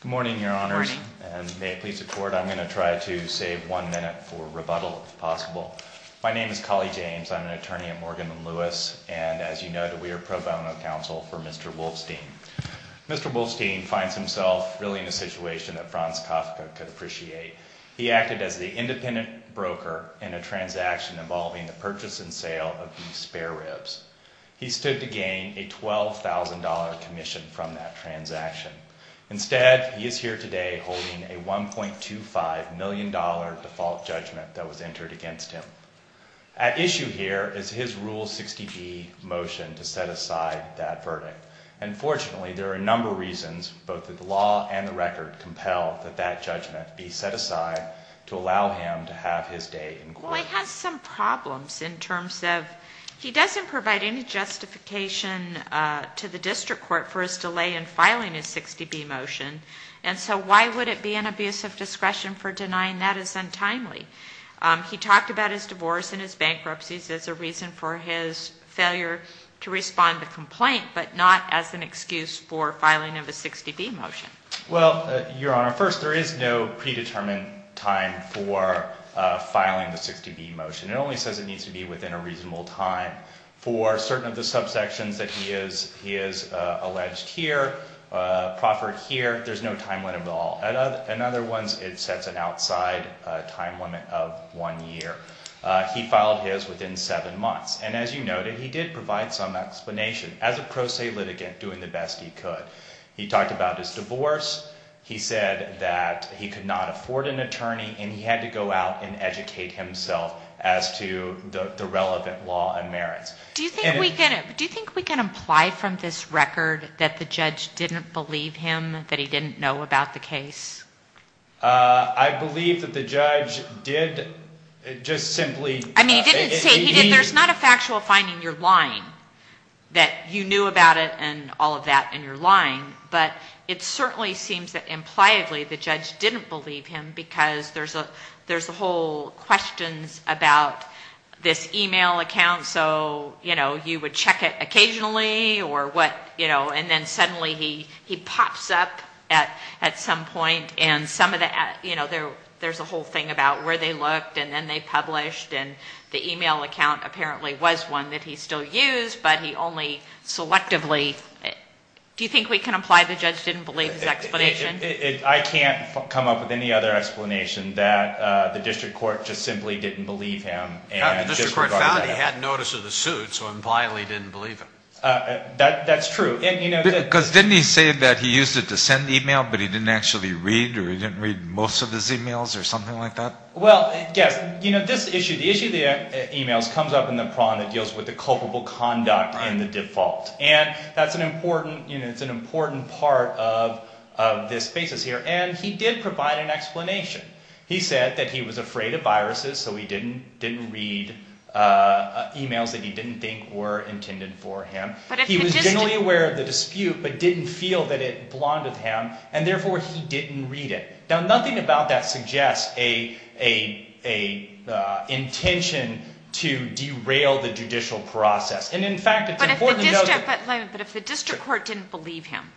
Good morning, Your Honors, and may it please the Court, I'm going to try to save one minute for rebuttal, if possible. My name is Colley James. I'm an attorney at Morgan & Lewis, and as you know, we are pro bono counsel for Mr. Wolfstein. Mr. Wolfstein finds himself really in a situation that Franz Kafka could appreciate. He acted as the independent broker in a transaction involving the purchase and sale of these spare ribs. He stood to gain a $12,000 commission from that transaction. Instead, he is here today holding a $1.25 million default judgment that was entered against him. At issue here is his Rule 60B motion to set aside that verdict. And fortunately, there are a number of reasons, both the law and the record, compel that that judgment be set aside to allow him to have his day in court. Well, he has some problems in terms of he doesn't provide any justification to the district court for his delay in filing his 60B motion. And so why would it be an abuse of discretion for denying that is untimely? He talked about his divorce and his bankruptcies as a reason for his failure to respond to the complaint, but not as an excuse for filing of a 60B motion. Well, Your Honor, first, there is no predetermined time for filing the 60B motion. It only says it needs to be within a reasonable time for certain of the subsections that he has alleged here, proffered here. There's no timeline at all. In other ones, it sets an outside time limit of one year. He filed his within seven months. And as you noted, he did provide some explanation as a pro se litigant doing the best he could. He talked about his divorce. He said that he could not afford an attorney and he had to go out and educate himself as to the relevant law and merits. Do you think we can imply from this record that the judge didn't believe him, that he didn't know about the case? I believe that the judge did just simply... But it certainly seems that impliedly the judge didn't believe him because there's a whole questions about this email account. So, you know, you would check it occasionally or what, you know. And then suddenly he pops up at some point and some of the, you know, there's a whole thing about where they looked and then they published. And the email account apparently was one that he still used, but he only selectively... Do you think we can imply the judge didn't believe his explanation? I can't come up with any other explanation that the district court just simply didn't believe him. The district court found he had notice of the suit, so impliedly didn't believe him. That's true. Because didn't he say that he used it to send email, but he didn't actually read or he didn't read most of his emails or something like that? Well, yes. You know, this issue, the issue of the emails comes up in the prong that deals with the culpable conduct and the default. And that's an important, you know, it's an important part of this basis here. And he did provide an explanation. He said that he was afraid of viruses, so he didn't read emails that he didn't think were intended for him. He was generally aware of the dispute, but didn't feel that it blinded him, and therefore he didn't read it. Now, nothing about that suggests an intention to derail the judicial process. But if the district court didn't believe him,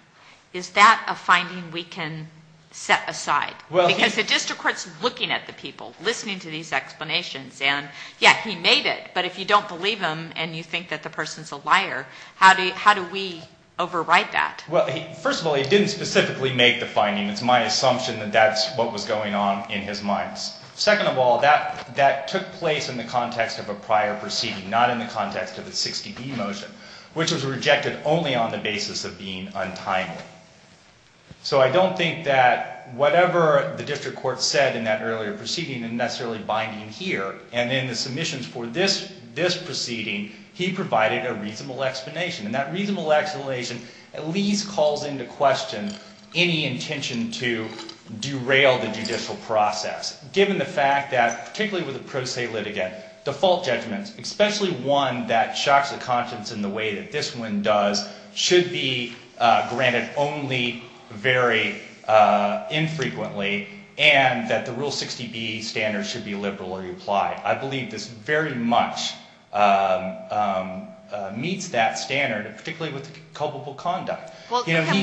is that a finding we can set aside? Because the district court's looking at the people, listening to these explanations. And, yeah, he made it, but if you don't believe him and you think that the person's a liar, how do we override that? Well, first of all, he didn't specifically make the finding. It's my assumption that that's what was going on in his mind. Second of all, that took place in the context of a prior proceeding, not in the context of the 60E motion, which was rejected only on the basis of being untimely. So I don't think that whatever the district court said in that earlier proceeding is necessarily binding here. And in the submissions for this proceeding, he provided a reasonable explanation. And that reasonable explanation at least calls into question any intention to derail the judicial process, given the fact that, particularly with a pro se litigant, default judgments, especially one that shocks the conscience in the way that this one does, should be granted only very infrequently, and that the Rule 60B standards should be liberally applied. I believe this very much meets that standard, particularly with culpable conduct. Well, what can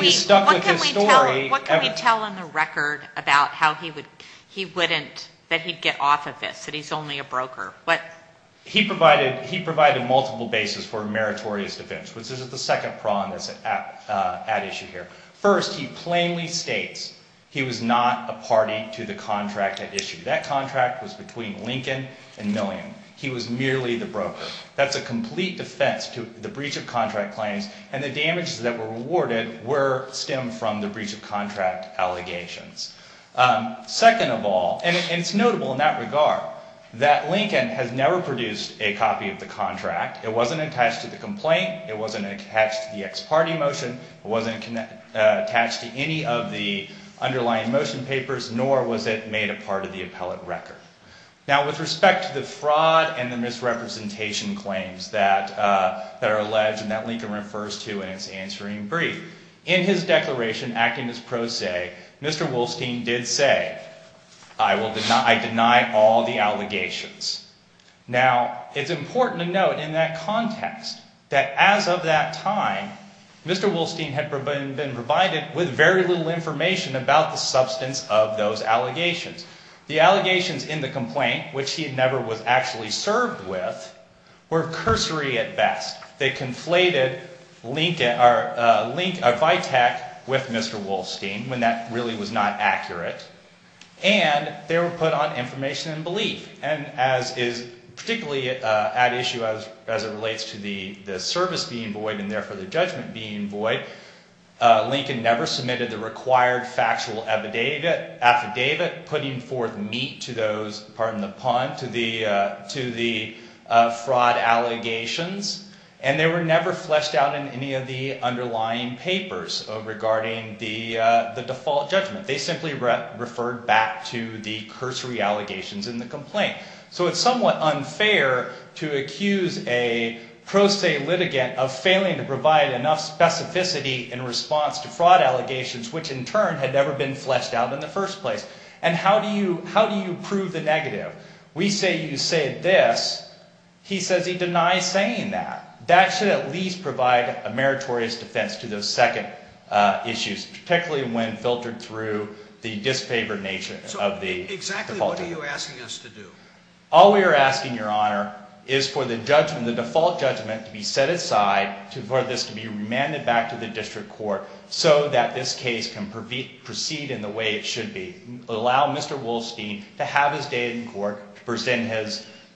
we tell in the record about how he wouldn't, that he'd get off of this, that he's only a broker? He provided multiple bases for meritorious defense, which is the second prong that's at issue here. First, he plainly states he was not a party to the contract at issue. That contract was between Lincoln and Milliam. He was merely the broker. That's a complete defense to the breach of contract claims, and the damages that were awarded stem from the breach of contract allegations. Second of all, and it's notable in that regard, that Lincoln has never produced a copy of the contract. It wasn't attached to the complaint. It wasn't attached to the ex parte motion. It wasn't attached to any of the underlying motion papers, nor was it made a part of the appellate record. Now, with respect to the fraud and the misrepresentation claims that are alleged, and that Lincoln refers to in his answering brief, in his declaration acting as pro se, Mr. Wolstein did say, I deny all the allegations. Now, it's important to note in that context that as of that time, Mr. Wolstein had been provided with very little information about the substance of those allegations. The allegations in the complaint, which he never was actually served with, were cursory at best. They conflated a link of VITAC with Mr. Wolstein when that really was not accurate, and they were put on information and belief. And as is particularly at issue as it relates to the service being void and therefore the judgment being void, Lincoln never submitted the required factual affidavit putting forth meat to the fraud allegations, and they were never fleshed out in any of the underlying papers regarding the default judgment. They simply referred back to the cursory allegations in the complaint. So it's somewhat unfair to accuse a pro se litigant of failing to provide enough specificity in response to fraud allegations, which in turn had never been fleshed out in the first place. And how do you prove the negative? We say you said this. He says he denies saying that. That should at least provide a meritorious defense to those second issues, particularly when filtered through the disfavored nature of the default judgment. So exactly what are you asking us to do? All we are asking, Your Honor, is for the judgment, the default judgment, to be set aside, for this to be remanded back to the district court so that this case can proceed in the way it should be. Allow Mr. Wolstein to have his day in court, present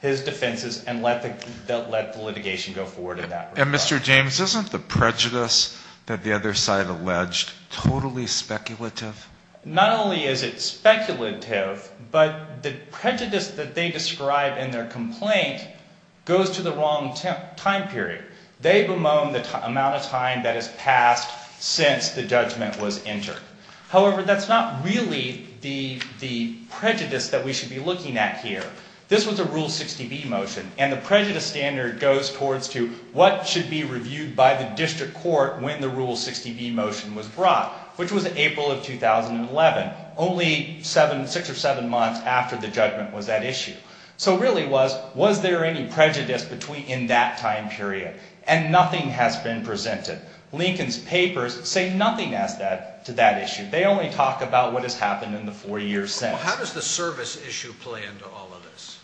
his defenses, and let the litigation go forward in that regard. And, Mr. James, isn't the prejudice that the other side alleged totally speculative? Not only is it speculative, but the prejudice that they describe in their complaint goes to the wrong time period. They bemoan the amount of time that has passed since the judgment was entered. However, that's not really the prejudice that we should be looking at here. This was a Rule 60B motion, and the prejudice standard goes towards to what should be reviewed by the district court when the Rule 60B motion was brought, which was in April of 2011, only six or seven months after the judgment was at issue. So it really was, was there any prejudice in that time period? And nothing has been presented. Lincoln's papers say nothing to that issue. They only talk about what has happened in the four years since. So how does the service issue play into all of this?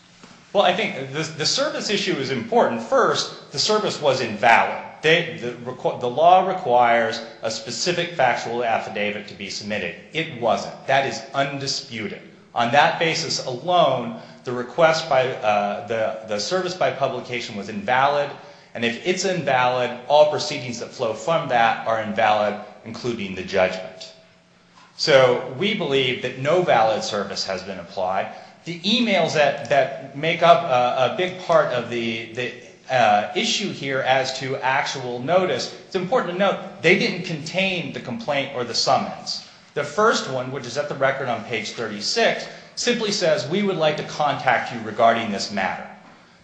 Well, I think the service issue is important. First, the service was invalid. The law requires a specific factual affidavit to be submitted. It wasn't. That is undisputed. On that basis alone, the request by, the service by publication was invalid. And if it's invalid, all proceedings that flow from that are invalid, including the judgment. So we believe that no valid service has been applied. The emails that make up a big part of the issue here as to actual notice, it's important to note, they didn't contain the complaint or the summons. The first one, which is at the record on page 36, simply says, we would like to contact you regarding this matter.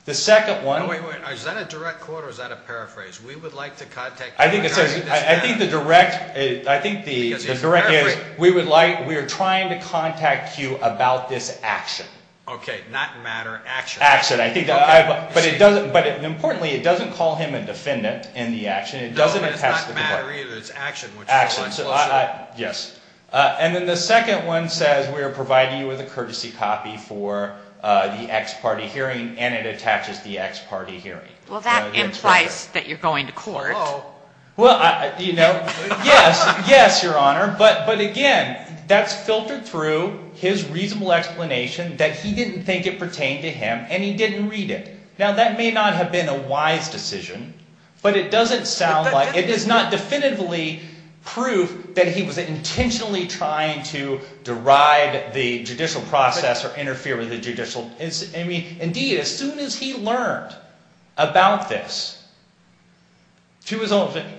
The second one... Wait, wait, wait. Is that a direct quote or is that a paraphrase? We would like to contact you regarding this matter. I think the direct is, we would like, we are trying to contact you about this action. Okay, not matter, action. Action. But importantly, it doesn't call him a defendant in the action. No, but it's not matter either, it's action. Action. Yes. And then the second one says, we are providing you with a courtesy copy for the ex-party hearing, and it attaches the ex-party hearing. Well, that implies that you're going to court. Well, you know, yes, yes, Your Honor, but again, that's filtered through his reasonable explanation that he didn't think it pertained to him, and he didn't read it. Now, that may not have been a wise decision, but it doesn't sound like, it is not definitively proof that he was intentionally trying to deride the judicial process or interfere with the judicial. Indeed, as soon as he learned about this,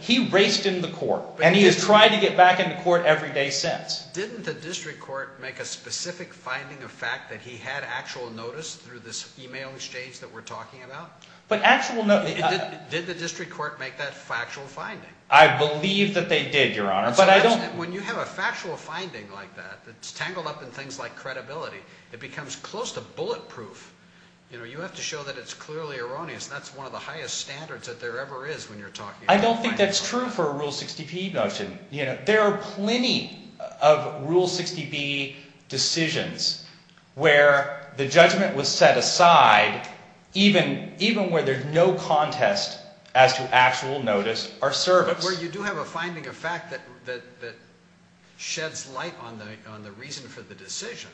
he raced into the court, and he has tried to get back into court every day since. Didn't the district court make a specific finding of fact that he had actual notice through this email exchange that we're talking about? But actual notice. Did the district court make that factual finding? I believe that they did, Your Honor, but I don't. When you have a factual finding like that that's tangled up in things like credibility, it becomes close to bulletproof. You know, you have to show that it's clearly erroneous, and that's one of the highest standards that there ever is when you're talking about a finding. I don't think that's true for a Rule 60p motion. You know, there are plenty of Rule 60b decisions where the judgment was set aside even where there's no contest as to actual notice or service. But where you do have a finding of fact that sheds light on the reason for the decision.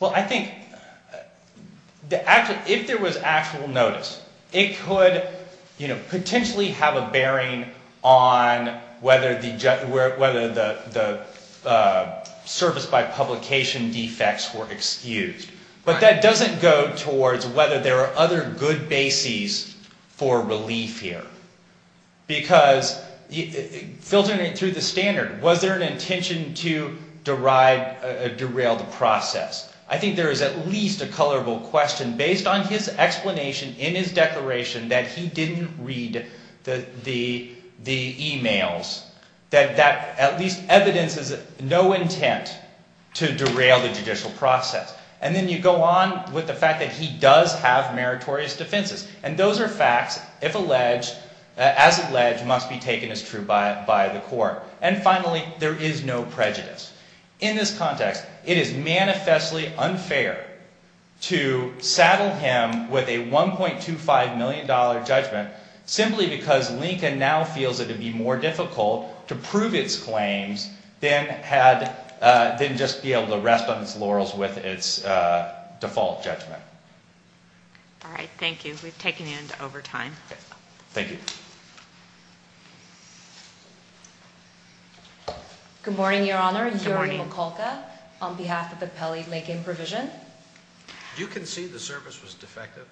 Well, I think if there was actual notice, it could potentially have a bearing on whether the service by publication defects were excused. But that doesn't go towards whether there are other good bases for relief here. Because filtering it through the standard, was there an intention to derail the process? I think there is at least a colorable question based on his explanation in his declaration that he didn't read the emails. That at least evidences no intent to derail the judicial process. And then you go on with the fact that he does have meritorious defenses. And those are facts, as alleged, must be taken as true by the court. And finally, there is no prejudice. In this context, it is manifestly unfair to saddle him with a $1.25 million judgment simply because Lincoln now feels it would be more difficult to prove its claims than just be able to rest on its laurels with its default judgment. All right, thank you. We've taken you into overtime. Thank you. Good morning, Your Honor. Good morning. On behalf of the Pelley-Lincoln Provision. Do you concede the service was defective?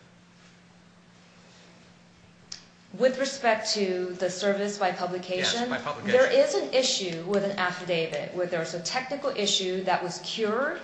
With respect to the service by publication? Yes, by publication. There is an issue with an affidavit where there's a technical issue that was cured.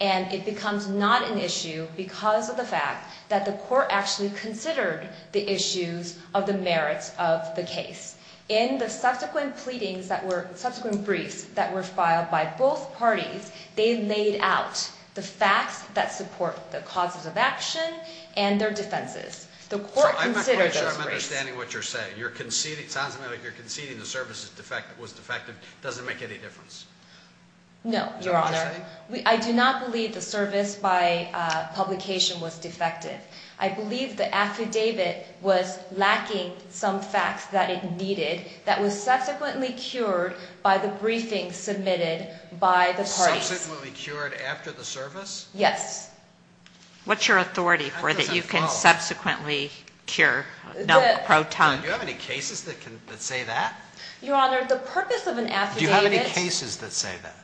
And it becomes not an issue because of the fact that the court actually considered the issues of the merits of the case. In the subsequent briefs that were filed by both parties, they laid out the facts that support the causes of action and their defenses. So I'm not quite sure I'm understanding what you're saying. It sounds to me like you're conceding the service was defective. Does it make any difference? No, Your Honor. Is that what you're saying? I do not believe the service by publication was defective. I believe the affidavit was lacking some facts that it needed that was subsequently cured by the briefing submitted by the parties. Subsequently cured after the service? Yes. What's your authority for that you can subsequently cure? Do you have any cases that say that? Your Honor, the purpose of an affidavit. Do you have any cases that say that?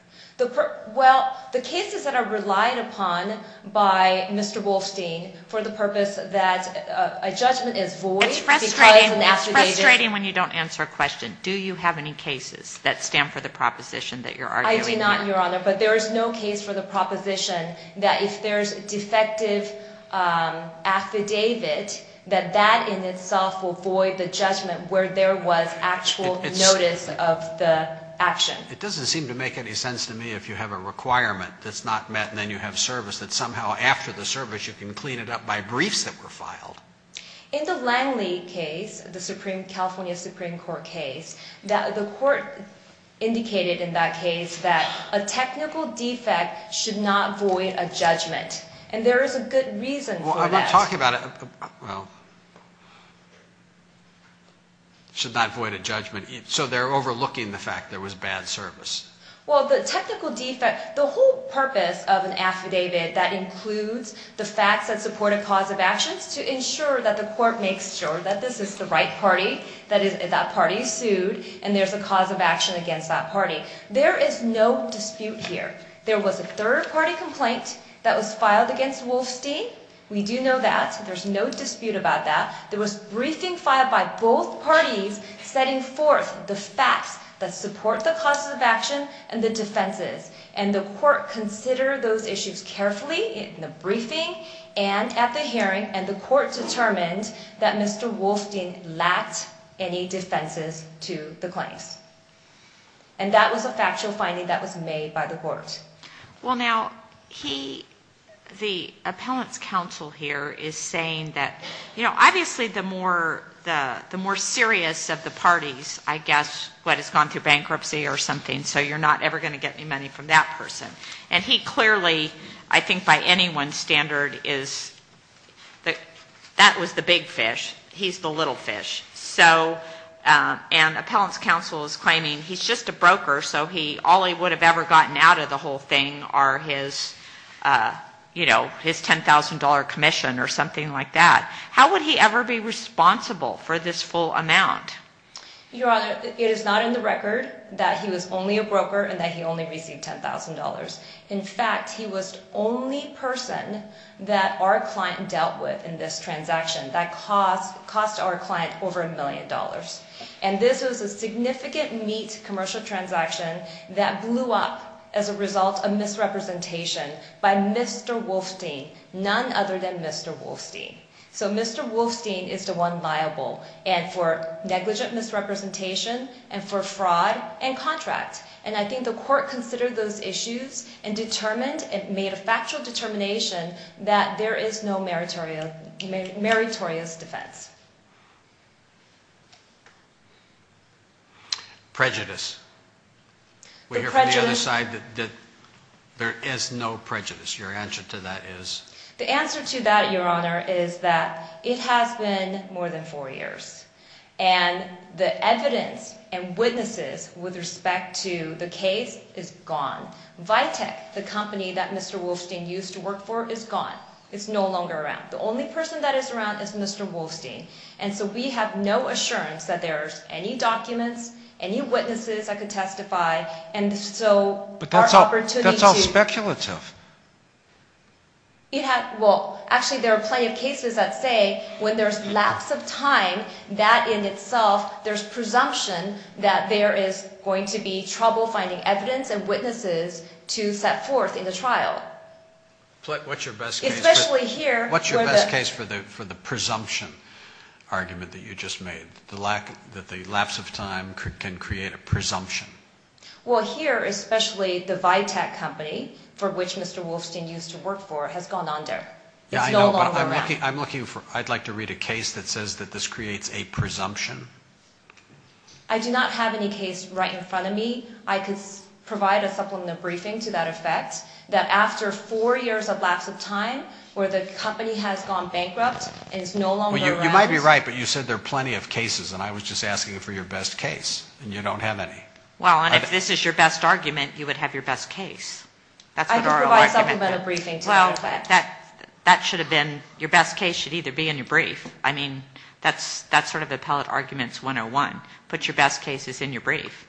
Well, the cases that are relied upon by Mr. Wolstein for the purpose that a judgment is void because an affidavit. It's frustrating when you don't answer a question. Do you have any cases that stand for the proposition that you're arguing? I do not, Your Honor, but there is no case for the proposition that if there's a defective affidavit, that that in itself will void the judgment where there was actual notice of the action. It doesn't seem to make any sense to me if you have a requirement that's not met and then you have service that somehow after the service you can clean it up by briefs that were filed. In the Langley case, the California Supreme Court case, the court indicated in that case that a technical defect should not void a judgment, and there is a good reason for that. I'm not talking about a, well, should not void a judgment. So they're overlooking the fact there was bad service. Well, the technical defect, the whole purpose of an affidavit that includes the facts that support a cause of actions to ensure that the court makes sure that this is the right party, that that party is sued, and there's a cause of action against that party. There is no dispute here. There was a third-party complaint that was filed against Wolfstein. We do know that. There's no dispute about that. There was a briefing filed by both parties setting forth the facts that support the causes of action and the defenses, and the court considered those issues carefully in the briefing and at the hearing, and the court determined that Mr. Wolfstein lacked any defenses to the claims. And that was a factual finding that was made by the court. Well, now, he, the appellant's counsel here is saying that, you know, obviously the more serious of the parties, I guess, what has gone through bankruptcy or something, so you're not ever going to get any money from that person. And he clearly, I think by anyone's standard, that was the big fish. He's the little fish. So, and appellant's counsel is claiming he's just a broker, so all he would have ever gotten out of the whole thing are his, you know, his $10,000 commission or something like that. How would he ever be responsible for this full amount? Your Honor, it is not in the record that he was only a broker and that he only received $10,000. In fact, he was the only person that our client dealt with in this transaction that cost our client over a million dollars. And this was a significant meat commercial transaction that blew up as a result of misrepresentation by Mr. Wolfstein, none other than Mr. Wolfstein. So Mr. Wolfstein is the one liable, and for negligent misrepresentation and for fraud and contract. And I think the court considered those issues and determined and made a factual determination that there is no meritorious defense. Prejudice. We hear from the other side that there is no prejudice. Your answer to that is? The answer to that, Your Honor, is that it has been more than four years. And the evidence and witnesses with respect to the case is gone. Vitek, the company that Mr. Wolfstein used to work for, is gone. It's no longer around. The only person that is around is Mr. Wolfstein. And so we have no assurance that there's any documents, any witnesses that could testify, and so our opportunity to... But that's all speculative. Well, actually, there are plenty of cases that say when there's lapse of time, that in itself, there's presumption that there is going to be trouble finding evidence and witnesses to set forth in the trial. What's your best case? Especially here. What's your best case for the presumption argument that you just made, that the lapse of time can create a presumption? Well, here, especially the Vitek company, for which Mr. Wolfstein used to work for, has gone under. It's no longer around. Yeah, I know, but I'm looking for... I'd like to read a case that says that this creates a presumption. I do not have any case right in front of me. I could provide a supplemental briefing to that effect, that after four years of lapse of time, where the company has gone bankrupt and is no longer around... Well, you might be right, but you said there are plenty of cases, and I was just asking for your best case, and you don't have any. Well, and if this is your best argument, you would have your best case. I could provide a supplemental briefing to that effect. Well, that should have been... Your best case should either be in your brief. I mean, that's sort of appellate arguments 101. Put your best cases in your brief.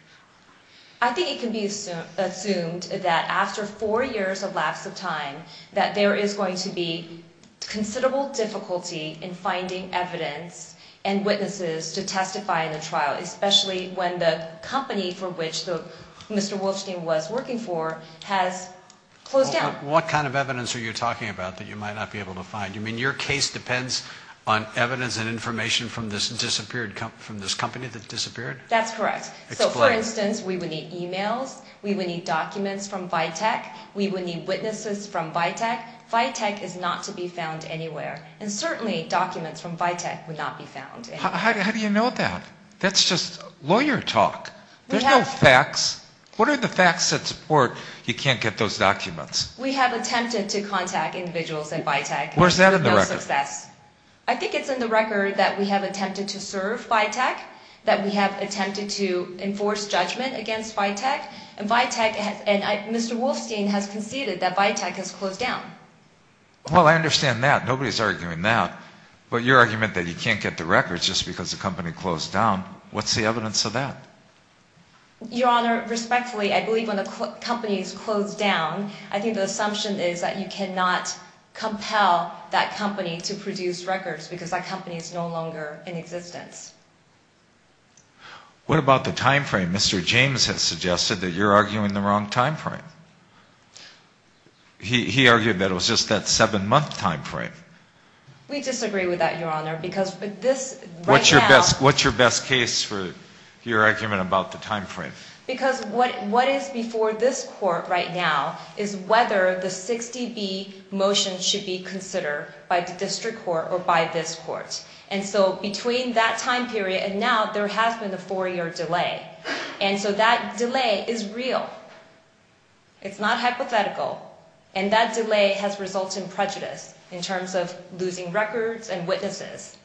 I think it can be assumed that after four years of lapse of time, that there is going to be considerable difficulty in finding evidence and witnesses to testify in the trial, especially when the company for which Mr. Wolfstein was working for has closed down. What kind of evidence are you talking about that you might not be able to find? You mean your case depends on evidence and information from this company that disappeared? That's correct. Explain. So, for instance, we would need e-mails. We would need documents from Vitek. We would need witnesses from Vitek. Vitek is not to be found anywhere, and certainly documents from Vitek would not be found anywhere. How do you know that? That's just lawyer talk. There's no facts. What are the facts that support you can't get those documents? We have attempted to contact individuals at Vitek. Where's that in the record? No success. I think it's in the record that we have attempted to serve Vitek, that we have attempted to enforce judgment against Vitek, and Mr. Wolfstein has conceded that Vitek has closed down. Well, I understand that. Nobody's arguing that. But your argument that you can't get the records just because the company closed down, what's the evidence of that? Your Honor, respectfully, I believe when a company is closed down, I think the assumption is that you cannot compel that company to produce records because that company is no longer in existence. What about the time frame? Mr. James has suggested that you're arguing the wrong time frame. He argued that it was just that seven-month time frame. We disagree with that, Your Honor, because this right now... What's your best case for your argument about the time frame? Because what is before this court right now is whether the 60B motion should be considered by the district court or by this court. And so between that time period and now, there has been a four-year delay. And so that delay is real. It's not hypothetical. And that delay has resulted in prejudice in terms of losing records and witnesses.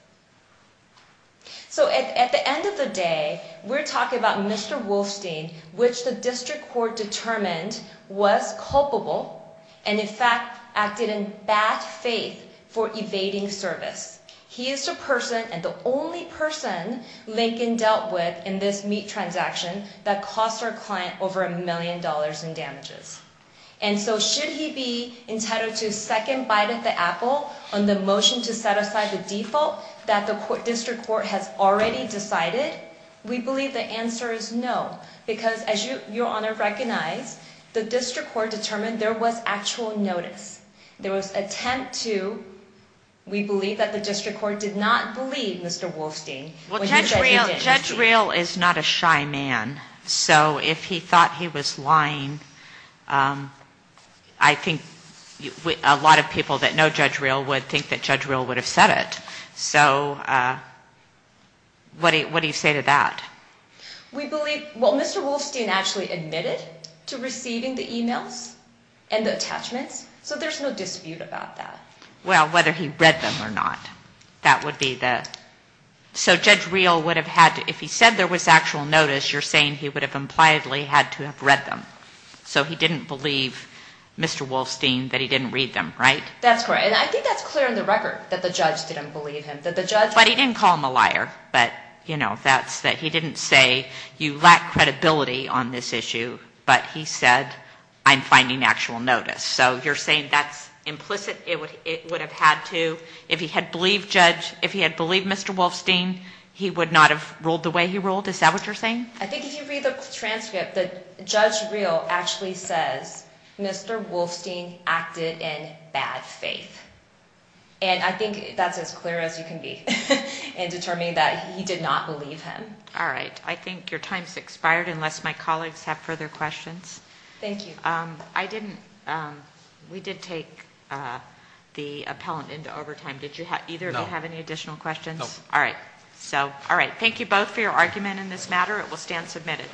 So at the end of the day, we're talking about Mr. Wolfstein, which the district court determined was culpable and, in fact, acted in bad faith for evading service. He is the person and the only person Lincoln dealt with in this meat transaction that cost our client over a million dollars in damages. And so should he be entitled to a second bite at the apple on the motion to set aside the default that the district court has already decided? We believe the answer is no because, as Your Honor recognized, the district court determined there was actual notice. There was attempt to... We believe that the district court did not believe Mr. Wolfstein when he said he did. Judge Rehl is not a shy man. So if he thought he was lying, I think a lot of people that know Judge Rehl would think that Judge Rehl would have said it. So what do you say to that? Well, Mr. Wolfstein actually admitted to receiving the emails and the attachments, so there's no dispute about that. Well, whether he read them or not, that would be the... So Judge Rehl would have had to... If he said there was actual notice, you're saying he would have impliedly had to have read them. So he didn't believe Mr. Wolfstein that he didn't read them, right? That's correct. And I think that's clear in the record, that the judge didn't believe him, that the judge... He didn't say, you lack credibility on this issue, but he said, I'm finding actual notice. So you're saying that's implicit? It would have had to... If he had believed Judge... If he had believed Mr. Wolfstein, he would not have ruled the way he ruled? Is that what you're saying? I think if you read the transcript, Judge Rehl actually says, Mr. Wolfstein acted in bad faith. And I think that's as clear as you can be in determining that he did not believe him. All right. I think your time's expired, unless my colleagues have further questions. Thank you. I didn't... We did take the appellant into overtime. Did either of you have any additional questions? No. All right. So, all right. Thank you both for your argument in this matter. It will stand submitted.